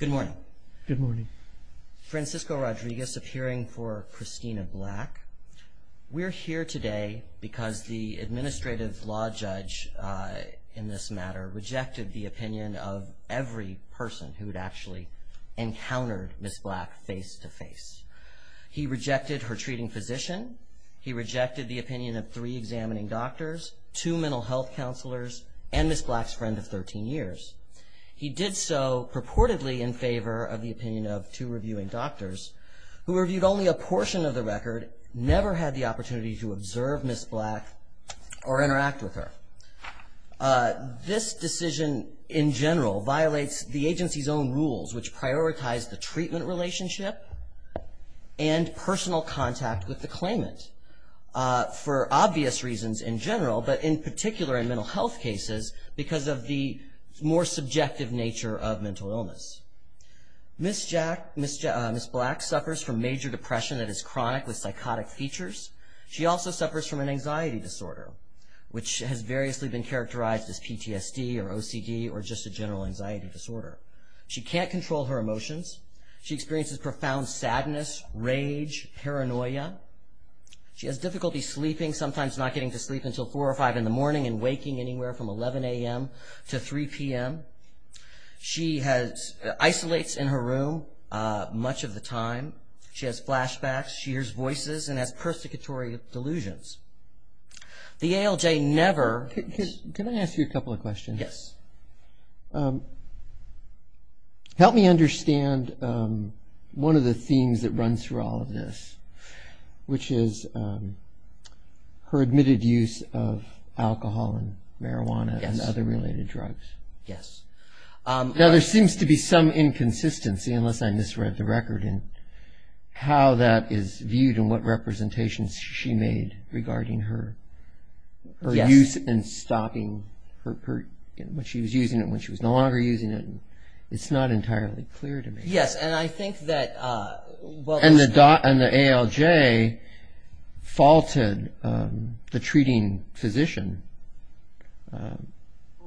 Good morning. Good morning. Francisco Rodriguez appearing for Christina Black. We're here today because the administrative law judge in this matter rejected the opinion of every person who had actually encountered Ms. Black face-to-face. He rejected her treating physician. He rejected the opinion of three examining doctors, two mental health counselors, and Ms. Black's friend of 13 years. He did so purportedly in favor of the opinion of two reviewing doctors who reviewed only a portion of the record, never had the opportunity to observe Ms. Black or interact with her. This decision in general violates the agency's own rules, which prioritize the treatment relationship and personal contact with the claimant, for obvious reasons in general, but in particular in mental health cases because of the more subjective nature of mental illness. Ms. Black suffers from major depression that is chronic with psychotic features. She also suffers from an anxiety disorder, which has variously been characterized as PTSD or OCD or just a general anxiety disorder. She can't control her emotions. She experiences profound sadness, rage, paranoia. She has difficulty sleeping, sometimes not getting to sleep until 4 or 5 in the morning and waking anywhere from 11 a.m. to 3 p.m. She isolates in her room much of the time. She has flashbacks. She hears voices and has persecutory delusions. The ALJ never- Can I ask you a couple of questions? Yes. Help me understand one of the themes that runs through all of this, which is her admitted use of alcohol and marijuana and other related drugs. Yes. Now, there seems to be some inconsistency, unless I misread the record, in how that is viewed and what representations she made regarding her use and stopping when she was using it and when she was no longer using it. It's not entirely clear to me. Yes, and I think that- And the ALJ faulted the treating physician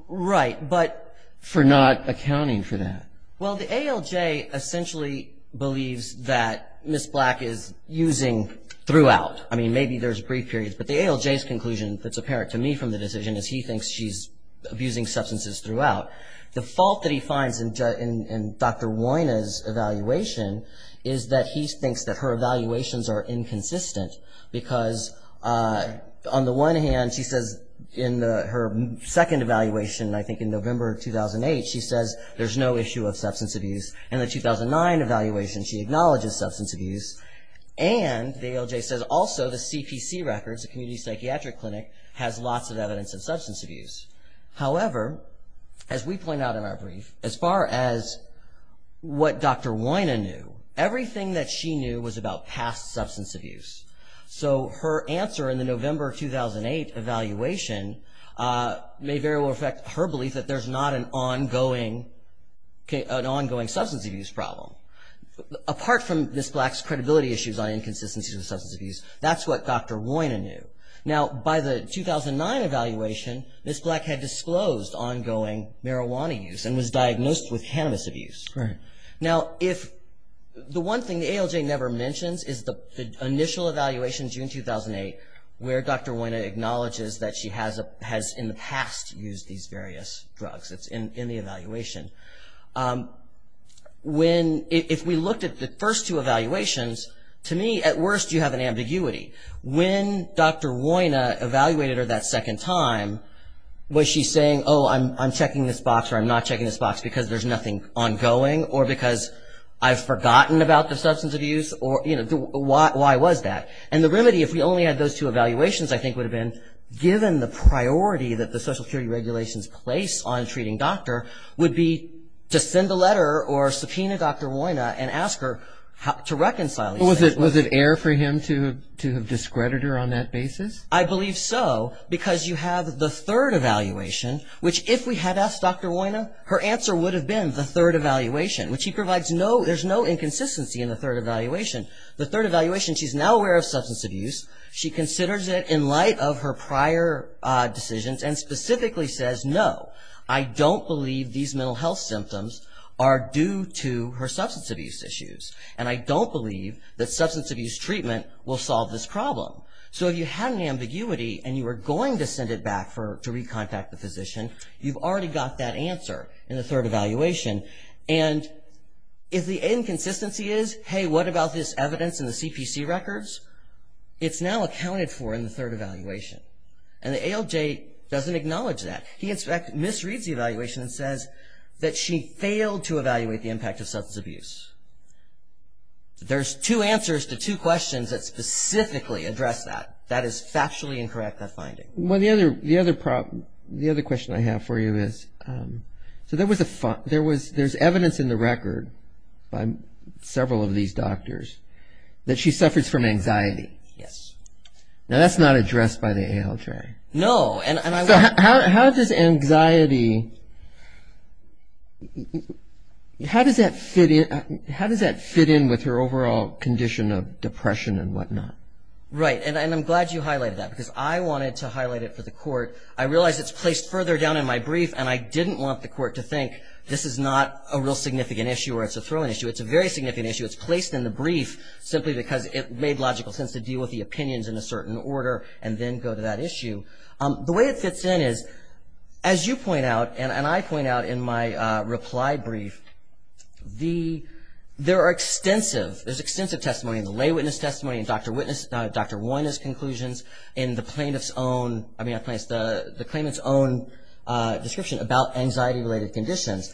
for not accounting for that. Well, the ALJ essentially believes that Ms. Black is using throughout. I mean, maybe there's brief periods, but the ALJ's conclusion that's apparent to me from the decision is he thinks she's abusing substances throughout. The fault that he finds in Dr. Woyna's evaluation is that he thinks that her evaluations are inconsistent because on the one hand, she says in her second evaluation, I think in November 2008, she says there's no issue of substance abuse. In the 2009 evaluation, she acknowledges substance abuse. And the ALJ says also the CPC records, the Community Psychiatric Clinic, has lots of evidence of substance abuse. However, as we point out in our brief, as far as what Dr. Woyna knew, everything that she knew was about past substance abuse. So her answer in the November 2008 evaluation may very well affect her belief that there's not an ongoing substance abuse problem. Apart from Ms. Black's credibility issues on inconsistencies in substance abuse, that's what Dr. Woyna knew. Now, by the 2009 evaluation, Ms. Black had disclosed ongoing marijuana use and was diagnosed with cannabis abuse. Now, the one thing the ALJ never mentions is the initial evaluation in June 2008, where Dr. Woyna acknowledges that she has in the past used these various drugs. It's in the evaluation. If we looked at the first two evaluations, to me, at worst, you have an ambiguity. When Dr. Woyna evaluated her that second time, was she saying, oh, I'm checking this box or I'm not checking this box because there's nothing ongoing, or because I've forgotten about the substance abuse, or, you know, why was that? And the remedy, if we only had those two evaluations, I think, would have been, given the priority that the Social Security regulations place on treating doctor, would be to send a letter or subpoena Dr. Woyna and ask her to reconcile. Was it air for him to have discredited her on that basis? I believe so, because you have the third evaluation, which if we had asked Dr. Woyna, her answer would have been the third evaluation, which he provides no – there's no inconsistency in the third evaluation. The third evaluation, she's now aware of substance abuse. She considers it in light of her prior decisions and specifically says, no, I don't believe these mental health symptoms are due to her substance abuse issues, and I don't believe that substance abuse treatment will solve this problem. So if you had an ambiguity and you were going to send it back to recontact the physician, you've already got that answer in the third evaluation. And if the inconsistency is, hey, what about this evidence in the CPC records? It's now accounted for in the third evaluation, and the ALJ doesn't acknowledge that. He misreads the evaluation and says that she failed to evaluate the impact of substance abuse. There's two answers to two questions that specifically address that. That is factually incorrect, that finding. Well, the other question I have for you is – so there's evidence in the record by several of these doctors that she suffers from anxiety. Yes. Now, that's not addressed by the ALJ. No. So how does anxiety – how does that fit in with her overall condition of depression and whatnot? Right, and I'm glad you highlighted that because I wanted to highlight it for the court. I realize it's placed further down in my brief, and I didn't want the court to think this is not a real significant issue or it's a throwing issue. It's a very significant issue. It's placed in the brief simply because it made logical sense to deal with the opinions in a certain order and then go to that issue. The way it fits in is, as you point out and I point out in my reply brief, there are extensive – there's extensive testimony in the lay witness testimony, in Dr. Woyne's conclusions, in the plaintiff's own – I mean, the claimant's own description about anxiety-related conditions.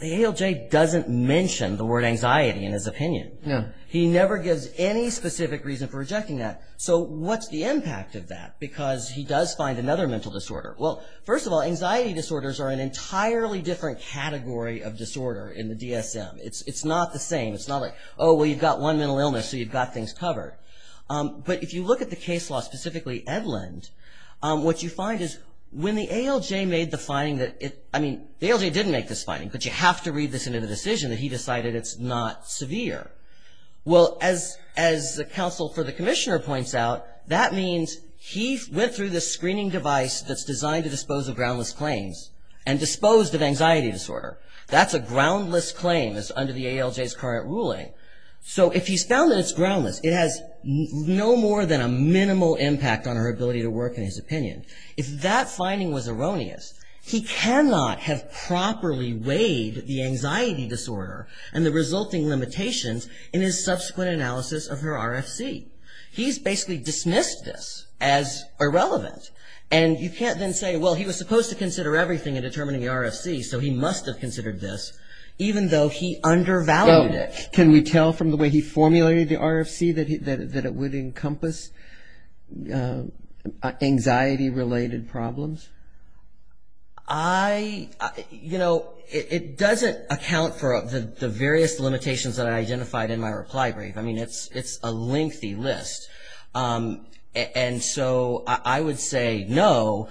The ALJ doesn't mention the word anxiety in his opinion. No. He never gives any specific reason for rejecting that. So what's the impact of that? Because he does find another mental disorder. Well, first of all, anxiety disorders are an entirely different category of disorder in the DSM. It's not the same. It's not like, oh, well, you've got one mental illness, so you've got things covered. But if you look at the case law, specifically Edlund, what you find is when the ALJ made the finding that – I mean, the ALJ didn't make this finding, but you have to read this into the decision that he decided it's not severe. Well, as the counsel for the commissioner points out, that means he went through the screening device that's designed to dispose of groundless claims and disposed of anxiety disorder. That's a groundless claim under the ALJ's current ruling. So if he's found that it's groundless, it has no more than a minimal impact on her ability to work in his opinion. If that finding was erroneous, he cannot have properly weighed the anxiety disorder and the resulting limitations in his subsequent analysis of her RFC. He's basically dismissed this as irrelevant. And you can't then say, well, he was supposed to consider everything in determining the RFC, so he must have considered this, even though he undervalued it. Can we tell from the way he formulated the RFC that it would encompass anxiety-related problems? I – you know, it doesn't account for the various limitations that I identified in my reply brief. I mean, it's a lengthy list. And so I would say, no,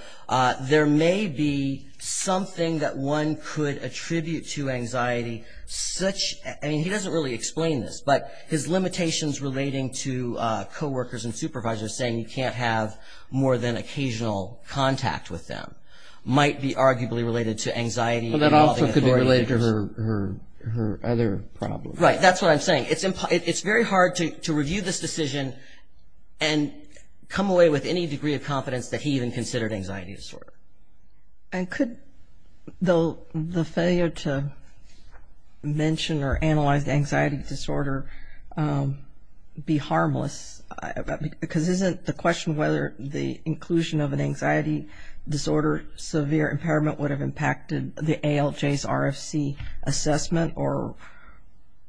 there may be something that one could attribute to anxiety such – I mean, he doesn't really explain this, but his limitations relating to coworkers and supervisors saying you can't have more than occasional contact with them might be arguably related to anxiety. But that also could be related to her other problems. Right, that's what I'm saying. It's very hard to review this decision and come away with any degree of confidence that he even considered anxiety disorder. And could the failure to mention or analyze the anxiety disorder be harmless? Because isn't the question whether the inclusion of an anxiety disorder severe impairment would have impacted the ALJ's RFC assessment, or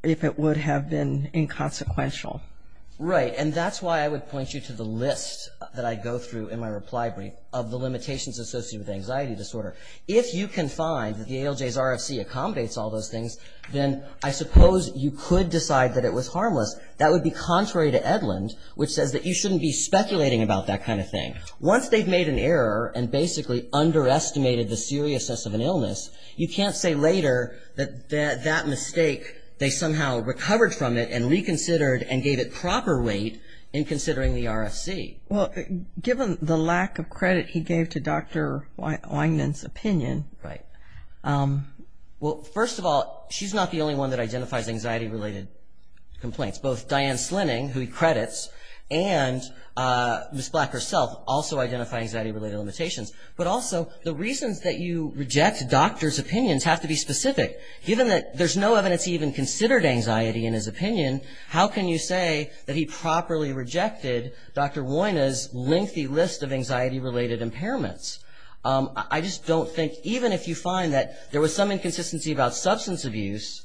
if it would have been inconsequential? Right, and that's why I would point you to the list that I go through in my reply brief of the limitations associated with anxiety disorder. If you can find that the ALJ's RFC accommodates all those things, then I suppose you could decide that it was harmless. That would be contrary to Edlund, which says that you shouldn't be speculating about that kind of thing. Once they've made an error and basically underestimated the seriousness of an illness, you can't say later that that mistake, they somehow recovered from it and reconsidered and gave it proper weight in considering the RFC. Well, given the lack of credit he gave to Dr. Weinmann's opinion. Right. Well, first of all, she's not the only one that identifies anxiety-related complaints. Both Diane Slinning, who he credits, and Ms. Black herself also identify anxiety-related limitations. But also, the reasons that you reject doctors' opinions have to be specific. Given that there's no evidence he even considered anxiety in his opinion, how can you say that he properly rejected Dr. Weina's lengthy list of anxiety-related impairments? I just don't think, even if you find that there was some inconsistency about substance abuse,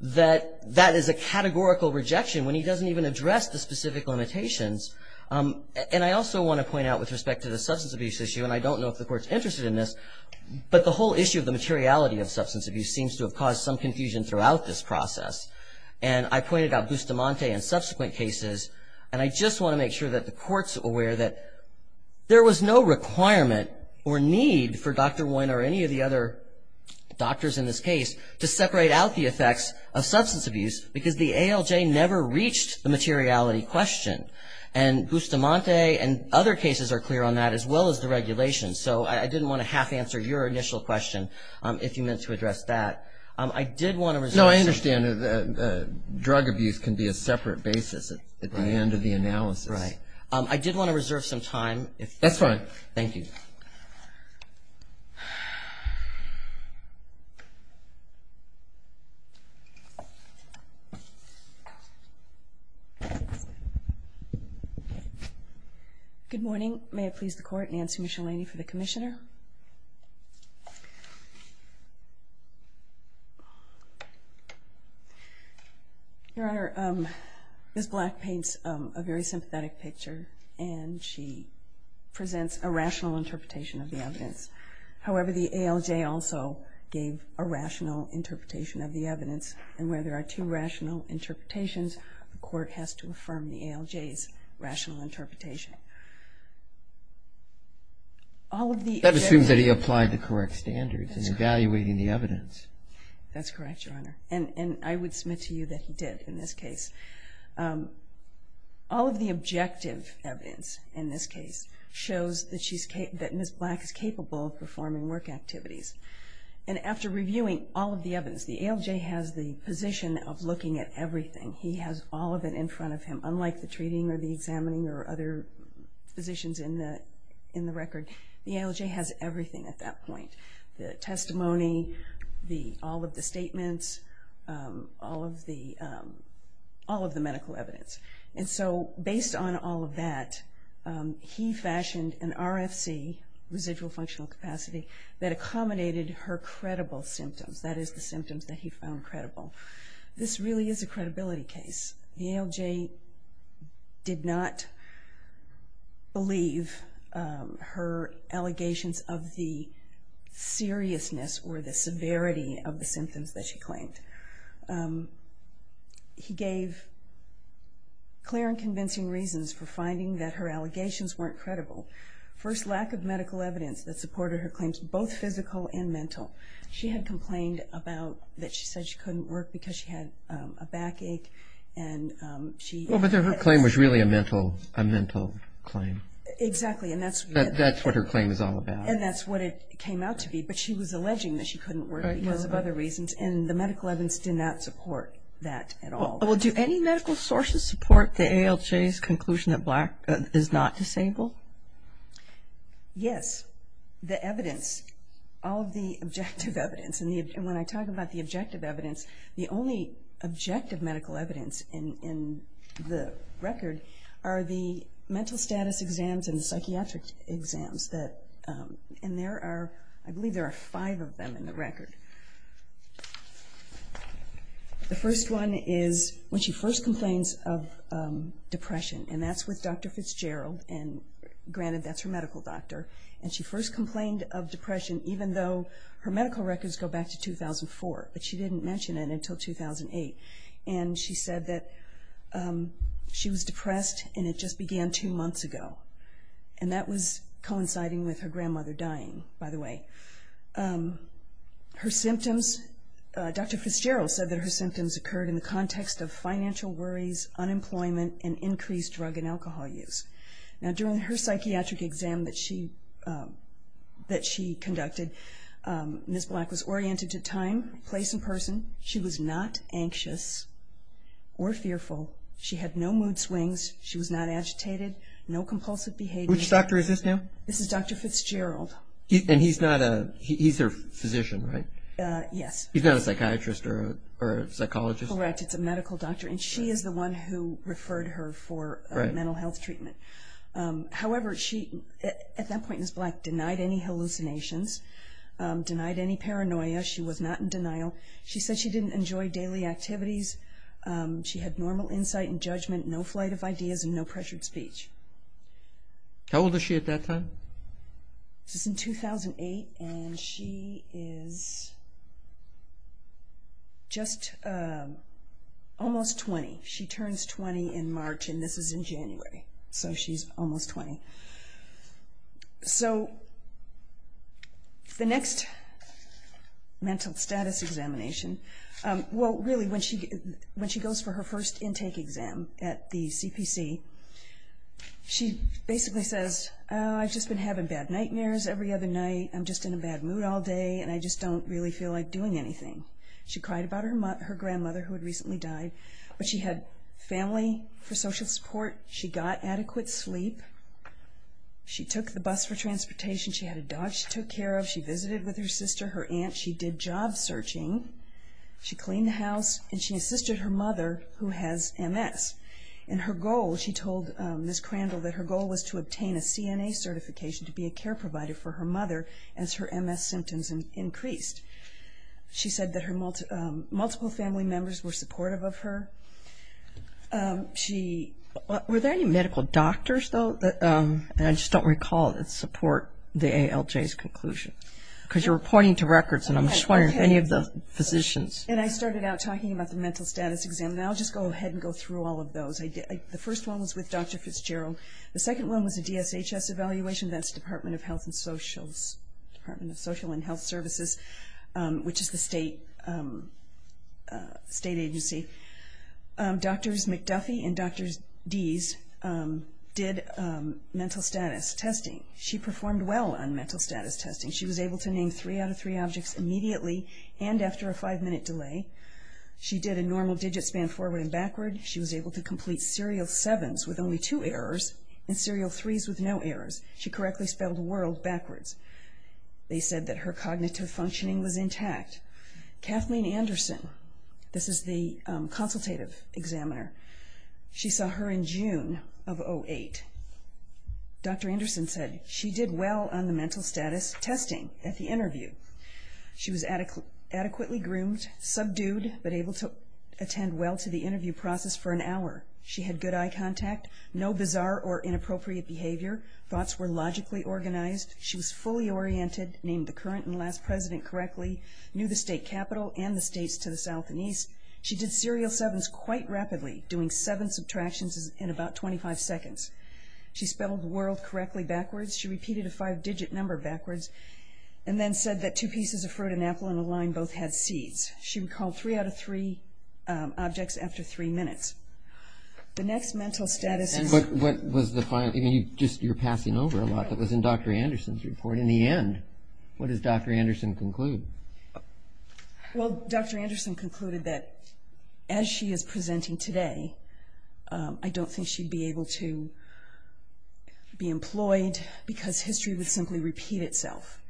that that is a categorical rejection when he doesn't even address the specific limitations. And I also want to point out with respect to the substance abuse issue, and I don't know if the court's interested in this, but the whole issue of the materiality of substance abuse seems to have caused some confusion throughout this process. And I pointed out gustamante in subsequent cases, and I just want to make sure that the court's aware that there was no requirement or need for Dr. Wein or any of the other doctors in this case to separate out the effects of substance abuse because the ALJ never reached the materiality question. And gustamante and other cases are clear on that, as well as the regulations. So I didn't want to half-answer your initial question if you meant to address that. No, I understand. Drug abuse can be a separate basis at the end of the analysis. I did want to reserve some time. That's fine. Thank you. Good morning. May it please the Court, Nancy Michelini for the Commissioner. Your Honor, Ms. Black paints a very sympathetic picture, and she presents a rational interpretation of the evidence. However, the ALJ also gave a rational interpretation of the evidence, and where there are two rational interpretations, the Court has to affirm the ALJ's rational interpretation. That assumes that he applied the correct standards in evaluating the evidence. That's correct, Your Honor, and I would submit to you that he did in this case. All of the objective evidence in this case shows that Ms. Black is capable of performing work activities. And after reviewing all of the evidence, the ALJ has the position of looking at everything. He has all of it in front of him, unlike the treating or the examining or other positions in the record. The ALJ has everything at that point, the testimony, all of the statements, all of the medical evidence. And so based on all of that, he fashioned an RFC, residual functional capacity, that accommodated her credible symptoms, that is the symptoms that he found credible. This really is a credibility case. The ALJ did not believe her allegations of the seriousness or the severity of the symptoms that she claimed. He gave clear and convincing reasons for finding that her allegations weren't credible. First, lack of medical evidence that supported her claims, both physical and mental. She had complained that she said she couldn't work because she had a backache. Well, but her claim was really a mental claim. Exactly. That's what her claim is all about. And that's what it came out to be. But she was alleging that she couldn't work because of other reasons. And the medical evidence did not support that at all. Well, do any medical sources support the ALJ's conclusion that Black is not disabled? Yes. The evidence, all of the objective evidence, and when I talk about the objective evidence, the only objective medical evidence in the record are the mental status exams and the psychiatric exams. And there are, I believe there are five of them in the record. The first one is when she first complains of depression. And that's with Dr. Fitzgerald. And granted, that's her medical doctor. And she first complained of depression even though her medical records go back to 2004. But she didn't mention it until 2008. And she said that she was depressed and it just began two months ago. And that was coinciding with her grandmother dying, by the way. Her symptoms, Dr. Fitzgerald said that her symptoms occurred in the context of financial worries, unemployment, and increased drug and alcohol use. Now, during her psychiatric exam that she conducted, Ms. Black was oriented to time, place, and person. She was not anxious or fearful. She had no mood swings. She was not agitated, no compulsive behavior. Which doctor is this now? This is Dr. Fitzgerald. And he's not a – he's her physician, right? Yes. He's not a psychiatrist or a psychologist? Correct. It's a medical doctor. And she is the one who referred her for mental health treatment. However, at that point, Ms. Black denied any hallucinations, denied any paranoia. She was not in denial. She said she didn't enjoy daily activities. She had normal insight and judgment, no flight of ideas, and no pressured speech. How old was she at that time? This is in 2008, and she is just almost 20. She turns 20 in March, and this is in January. So she's almost 20. So the next mental status examination – well, really, when she goes for her first intake exam at the CPC, she basically says, oh, I've just been having bad nightmares every other night. I'm just in a bad mood all day, and I just don't really feel like doing anything. She cried about her grandmother, who had recently died. But she had family for social support. She got adequate sleep. She took the bus for transportation. She had a dog she took care of. She visited with her sister, her aunt. She did job searching. She cleaned the house, and she assisted her mother, who has MS. And her goal, she told Ms. Crandall, that her goal was to obtain a CNA certification to be a care provider for her mother as her MS symptoms increased. She said that her multiple family members were supportive of her. Were there any medical doctors, though? I just don't recall that support the ALJ's conclusion, because you were pointing to records, and I'm just wondering if any of the physicians. And I started out talking about the mental status exam. And I'll just go ahead and go through all of those. The first one was with Dr. Fitzgerald. The second one was a DSHS evaluation. That's Department of Health and Social, Department of Social and Health Services, which is the state agency. Drs. McDuffie and Drs. Deese did mental status testing. She performed well on mental status testing. She was able to name three out of three objects immediately and after a five-minute delay. She did a normal digit span forward and backward. She was able to complete serial sevens with only two errors and serial threes with no errors. She correctly spelled world backwards. They said that her cognitive functioning was intact. Kathleen Anderson, this is the consultative examiner, she saw her in June of 2008. Dr. Anderson said she did well on the mental status testing at the interview. She was adequately groomed, subdued, but able to attend well to the interview process for an hour. She had good eye contact, no bizarre or inappropriate behavior. Thoughts were logically organized. She was fully oriented, named the current and last president correctly, knew the state capital and the states to the south and east. She did serial sevens quite rapidly, doing seven subtractions in about 25 seconds. She spelled world correctly backwards. She repeated a five-digit number backwards and then said that two pieces of fruit and apple in a line both had seeds. She recalled three out of three objects after three minutes. The next mental status is- And what was the final, I mean, you're passing over a lot. That was in Dr. Anderson's report. In the end, what does Dr. Anderson conclude? Well, Dr. Anderson concluded that as she is presenting today, I don't think she'd be able to be employed because history would simply repeat itself.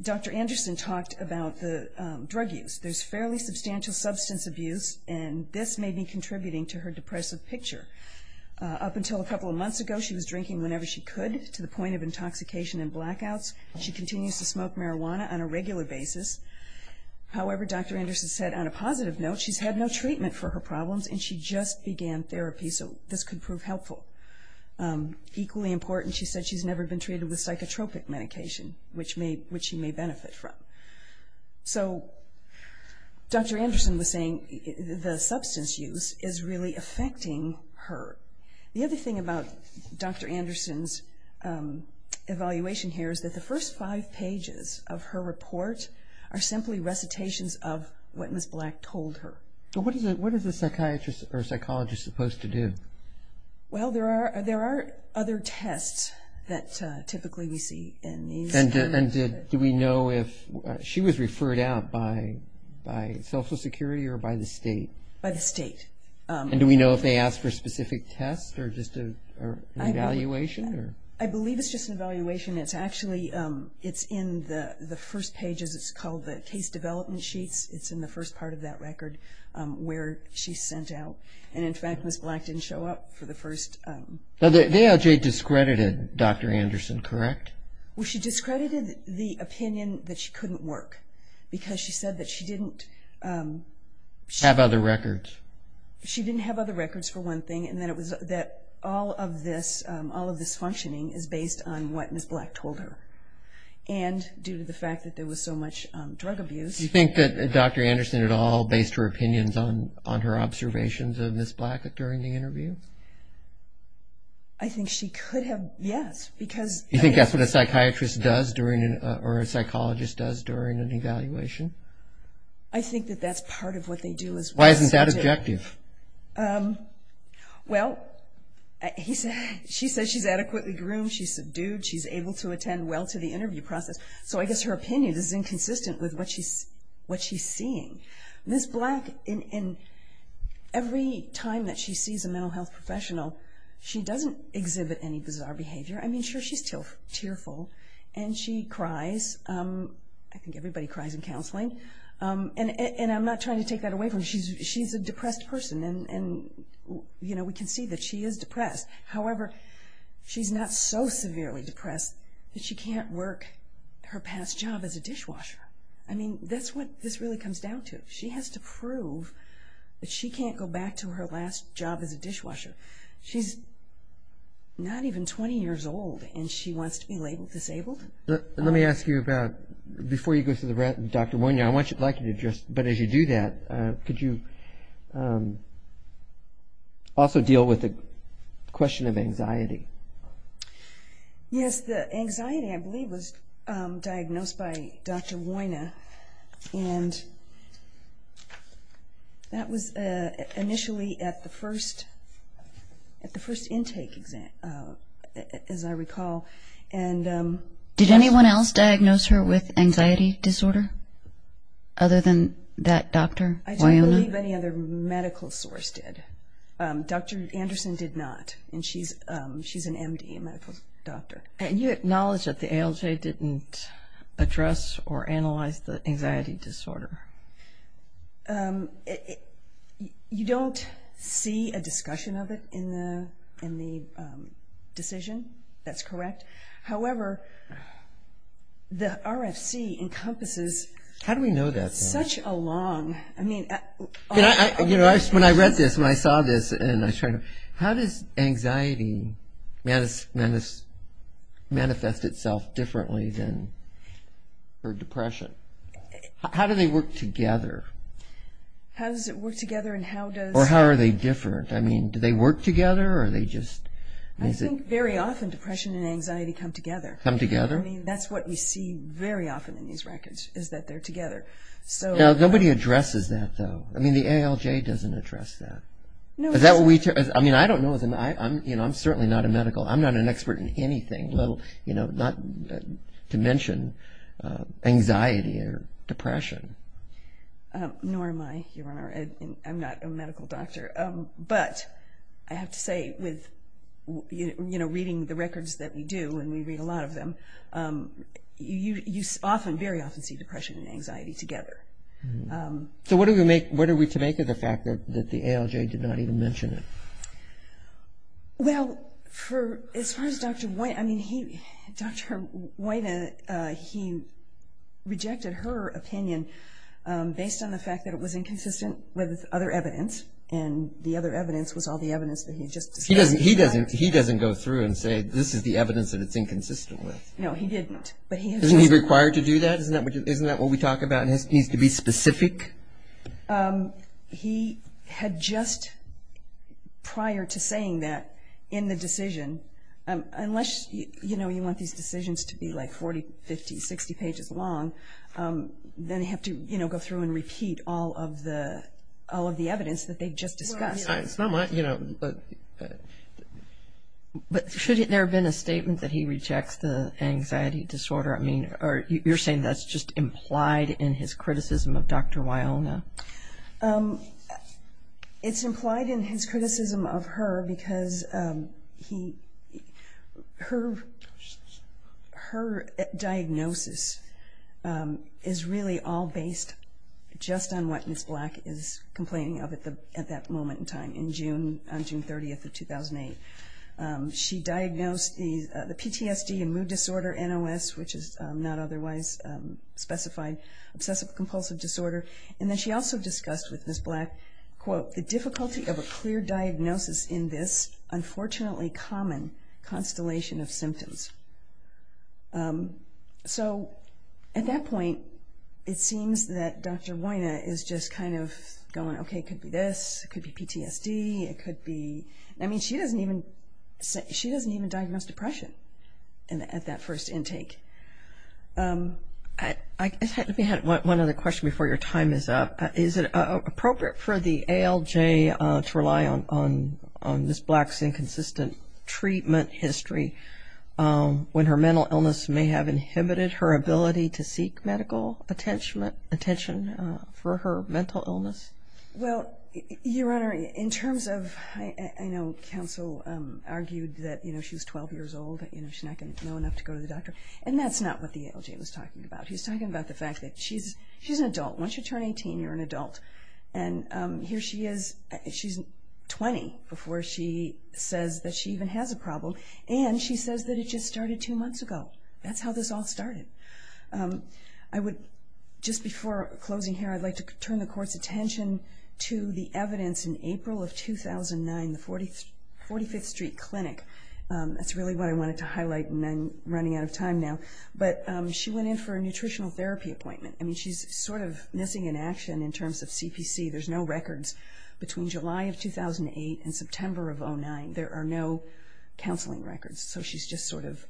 Dr. Anderson talked about the drug use. There's fairly substantial substance abuse, and this may be contributing to her depressive picture. Up until a couple of months ago, she was drinking whenever she could, to the point of intoxication and blackouts. She continues to smoke marijuana on a regular basis. However, Dr. Anderson said on a positive note, she's had no treatment for her problems, and she just began therapy, so this could prove helpful. Equally important, she said she's never been treated with psychotropic medication, which she may benefit from. So Dr. Anderson was saying the substance use is really affecting her. The other thing about Dr. Anderson's evaluation here is that the first five pages of her report are simply recitations of what Ms. Black told her. What is a psychiatrist or psychologist supposed to do? Well, there are other tests that typically we see in these. And do we know if she was referred out by Social Security or by the state? By the state. And do we know if they asked for a specific test or just an evaluation? I believe it's just an evaluation. It's actually in the first pages. It's called the case development sheets. It's in the first part of that record where she's sent out. And, in fact, Ms. Black didn't show up for the first. Now, the ALJ discredited Dr. Anderson, correct? Well, she discredited the opinion that she couldn't work, because she said that she didn't have other records. She didn't have other records, for one thing, and that all of this functioning is based on what Ms. Black told her. And due to the fact that there was so much drug abuse. Do you think that Dr. Anderson at all based her opinions on her observations of Ms. Black during the interview? I think she could have, yes. Do you think that's what a psychiatrist does or a psychologist does during an evaluation? I think that that's part of what they do. Why isn't that objective? Well, she says she's adequately groomed, she's subdued, she's able to attend well to the interview process. So I guess her opinion is inconsistent with what she's seeing. Ms. Black, every time that she sees a mental health professional, she doesn't exhibit any bizarre behavior. I mean, sure, she's tearful, and she cries. I think everybody cries in counseling. And I'm not trying to take that away from her. She's a depressed person, and we can see that she is depressed. However, she's not so severely depressed that she can't work her past job as a dishwasher. I mean, that's what this really comes down to. She has to prove that she can't go back to her last job as a dishwasher. She's not even 20 years old, and she wants to be labeled disabled? Let me ask you about, before you go to Dr. Wojna, I'd like you to just, but as you do that, could you also deal with the question of anxiety? Yes, the anxiety I believe was diagnosed by Dr. Wojna, and that was initially at the first intake, as I recall. Did anyone else diagnose her with anxiety disorder other than that doctor, Wojna? I don't believe any other medical source did. Dr. Anderson did not, and she's an MD, a medical doctor. And you acknowledge that the ALJ didn't address or analyze the anxiety disorder? You don't see a discussion of it in the decision. That's correct. However, the RFC encompasses such a long… When I read this, when I saw this, how does anxiety manifest itself differently than her depression? How do they work together? How does it work together, and how does… Or how are they different? I mean, do they work together, or are they just… I think very often depression and anxiety come together. Come together? I mean, that's what we see very often in these records, is that they're together. Now, nobody addresses that, though. I mean, the ALJ doesn't address that. No, it doesn't. I mean, I don't know. I'm certainly not a medical. I'm not an expert in anything. Not to mention anxiety or depression. Nor am I, Your Honor. I'm not a medical doctor. But I have to say, with reading the records that we do, and we read a lot of them, you very often see depression and anxiety together. So what are we to make of the fact that the ALJ did not even mention it? Well, as far as Dr. Woyna, I mean, Dr. Woyna, he rejected her opinion based on the fact that it was inconsistent with other evidence, and the other evidence was all the evidence that he had just discussed. He doesn't go through and say, this is the evidence that it's inconsistent with. No, he didn't. Isn't he required to do that? Isn't that what we talk about, and it needs to be specific? I think he had just, prior to saying that, in the decision, unless, you know, you want these decisions to be like 40, 50, 60 pages long, then you have to, you know, go through and repeat all of the evidence that they just discussed. It's not my, you know, but should there have been a statement that he rejects the anxiety disorder? I mean, you're saying that's just implied in his criticism of Dr. Woyna? It's implied in his criticism of her because he, her, her diagnosis is really all based just on what Ms. Black is complaining of at that moment in time, on June 30th of 2008. She diagnosed the PTSD and mood disorder, NOS, which is not otherwise specified obsessive-compulsive disorder, and then she also discussed with Ms. Black, quote, the difficulty of a clear diagnosis in this unfortunately common constellation of symptoms. So at that point, it seems that Dr. Woyna is just kind of going, okay, it could be this, it could be PTSD, it could be, I mean she doesn't even, she doesn't even diagnose depression at that first intake. Let me add one other question before your time is up. Is it appropriate for the ALJ to rely on Ms. Black's inconsistent treatment history when her mental illness may have inhibited her ability to seek medical attention for her mental illness? Well, Your Honor, in terms of, I know counsel argued that, you know, she was 12 years old, you know, she's not going to know enough to go to the doctor, and that's not what the ALJ was talking about. He was talking about the fact that she's an adult. Once you turn 18, you're an adult. And here she is, she's 20 before she says that she even has a problem, and she says that it just started two months ago. That's how this all started. I would, just before closing here, I'd like to turn the Court's attention to the evidence in April of 2009, the 45th Street Clinic. That's really what I wanted to highlight, and I'm running out of time now. But she went in for a nutritional therapy appointment. I mean she's sort of missing in action in terms of CPC. There's no records between July of 2008 and September of 2009. There are no counseling records, so she's just sort of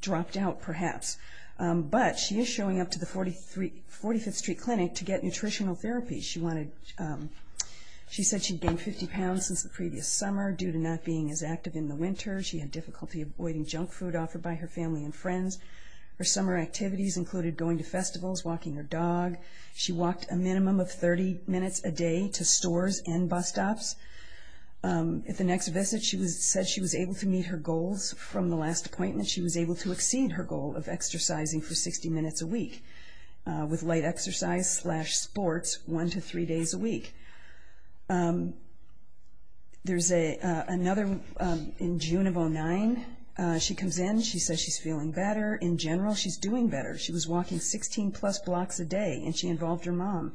dropped out perhaps. But she is showing up to the 45th Street Clinic to get nutritional therapy. She said she'd gained 50 pounds since the previous summer due to not being as active in the winter. She had difficulty avoiding junk food offered by her family and friends. Her summer activities included going to festivals, walking her dog. She walked a minimum of 30 minutes a day to stores and bus stops. At the next visit, she said she was able to meet her goals. From the last appointment, she was able to exceed her goal of exercising for 60 minutes a week with light exercise slash sports one to three days a week. There's another in June of 2009. She comes in. She says she's feeling better. In general, she's doing better. She was walking 16-plus blocks a day, and she involved her mom.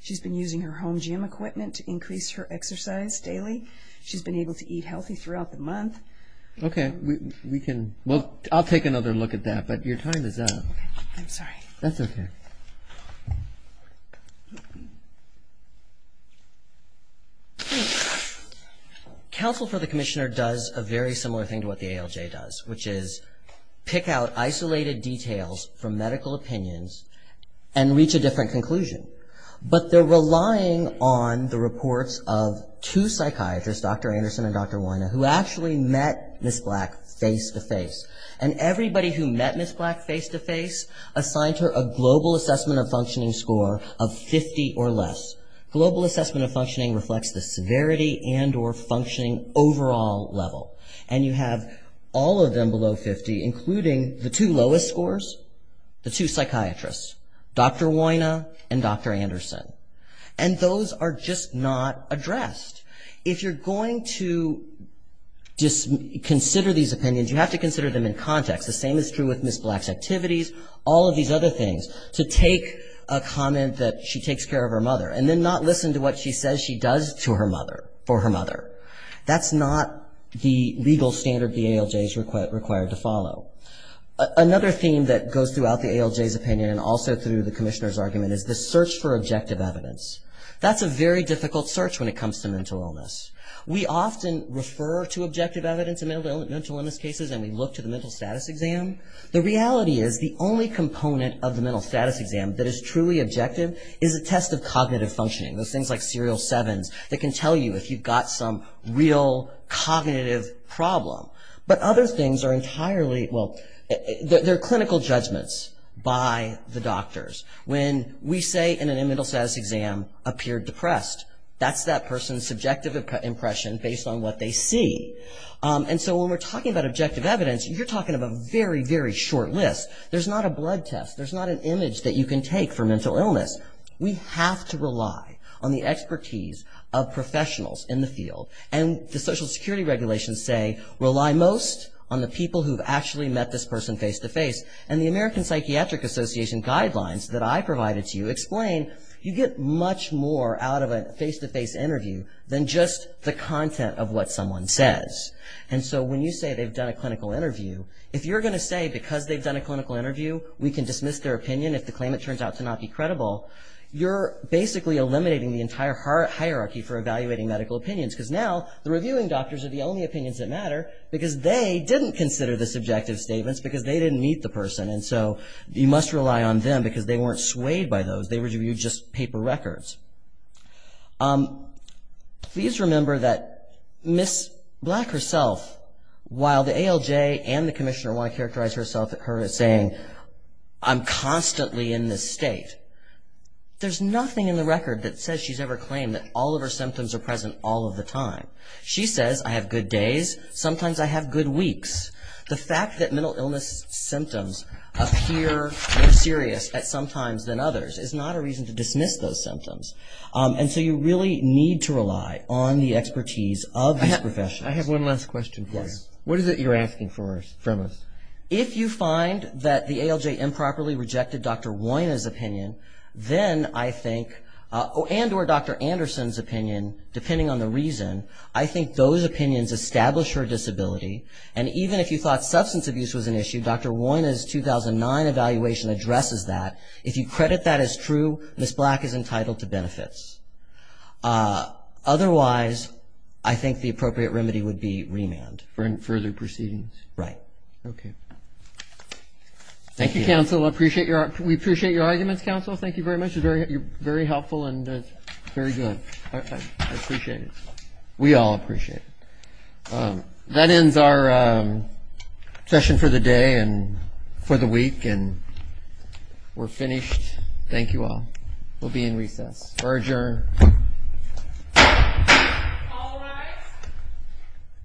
She's been using her home gym equipment to increase her exercise daily. She's been able to eat healthy throughout the month. Okay. I'll take another look at that, but your time is up. I'm sorry. That's okay. Counsel for the Commissioner does a very similar thing to what the ALJ does, which is pick out isolated details from medical opinions and reach a different conclusion. But they're relying on the reports of two psychiatrists, Dr. Anderson and Dr. Weiner, who actually met Ms. Black face-to-face. And everybody who met Ms. Black face-to-face assigned her a global assessment of functioning score of 50 or less. Global assessment of functioning reflects the severity and or functioning overall level. And you have all of them below 50, including the two lowest scores, the two psychiatrists, Dr. Weiner and Dr. Anderson. And those are just not addressed. If you're going to consider these opinions, you have to consider them in context. The same is true with Ms. Black's activities, all of these other things, to take a comment that she takes care of her mother and then not listen to what she says she does for her mother. That's not the legal standard the ALJ is required to follow. Another theme that goes throughout the ALJ's opinion and also through the Commissioner's argument is the search for objective evidence. That's a very difficult search when it comes to mental illness. We often refer to objective evidence in mental illness cases and we look to the mental status exam. The reality is the only component of the mental status exam that is truly objective is a test of cognitive functioning. Those things like serial sevens that can tell you if you've got some real cognitive problem. But other things are entirely, well, they're clinical judgments by the doctors. When we say in a mental status exam, appeared depressed, that's that person's subjective impression based on what they see. And so when we're talking about objective evidence, you're talking about a very, very short list. There's not a blood test. There's not an image that you can take for mental illness. We have to rely on the expertise of professionals in the field. And the social security regulations say rely most on the people who've actually met this person face-to-face. And the American Psychiatric Association guidelines that I provided to you explain you get much more out of a face-to-face interview than just the content of what someone says. And so when you say they've done a clinical interview, if you're going to say because they've done a clinical interview we can dismiss their opinion if the claimant turns out to not be credible, you're basically eliminating the entire hierarchy for evaluating medical opinions. Because now the reviewing doctors are the only opinions that matter because they didn't consider the subjective statements because they didn't meet the person. And so you must rely on them because they weren't swayed by those. They reviewed just paper records. Please remember that Ms. Black herself, while the ALJ and the commissioner want to characterize her as saying I'm constantly in this state, there's nothing in the record that says she's ever claimed that all of her symptoms are present all of the time. She says I have good days. Sometimes I have good weeks. The fact that mental illness symptoms appear more serious at some times than others is not a reason to dismiss those symptoms. And so you really need to rely on the expertise of these professionals. I have one last question for you. What is it you're asking from us? If you find that the ALJ improperly rejected Dr. Woyna's opinion, then I think, and or Dr. Anderson's opinion, depending on the reason, I think those opinions establish her disability. And even if you thought substance abuse was an issue, Dr. Woyna's 2009 evaluation addresses that. If you credit that as true, Ms. Black is entitled to benefits. Otherwise, I think the appropriate remedy would be remand. Further proceedings? Right. Okay. Thank you, counsel. We appreciate your arguments, counsel. Thank you very much. You're very helpful and very good. I appreciate it. We all appreciate it. That ends our session for the day and for the week, and we're finished. Thank you all. We'll be in recess. We're adjourned. All rise.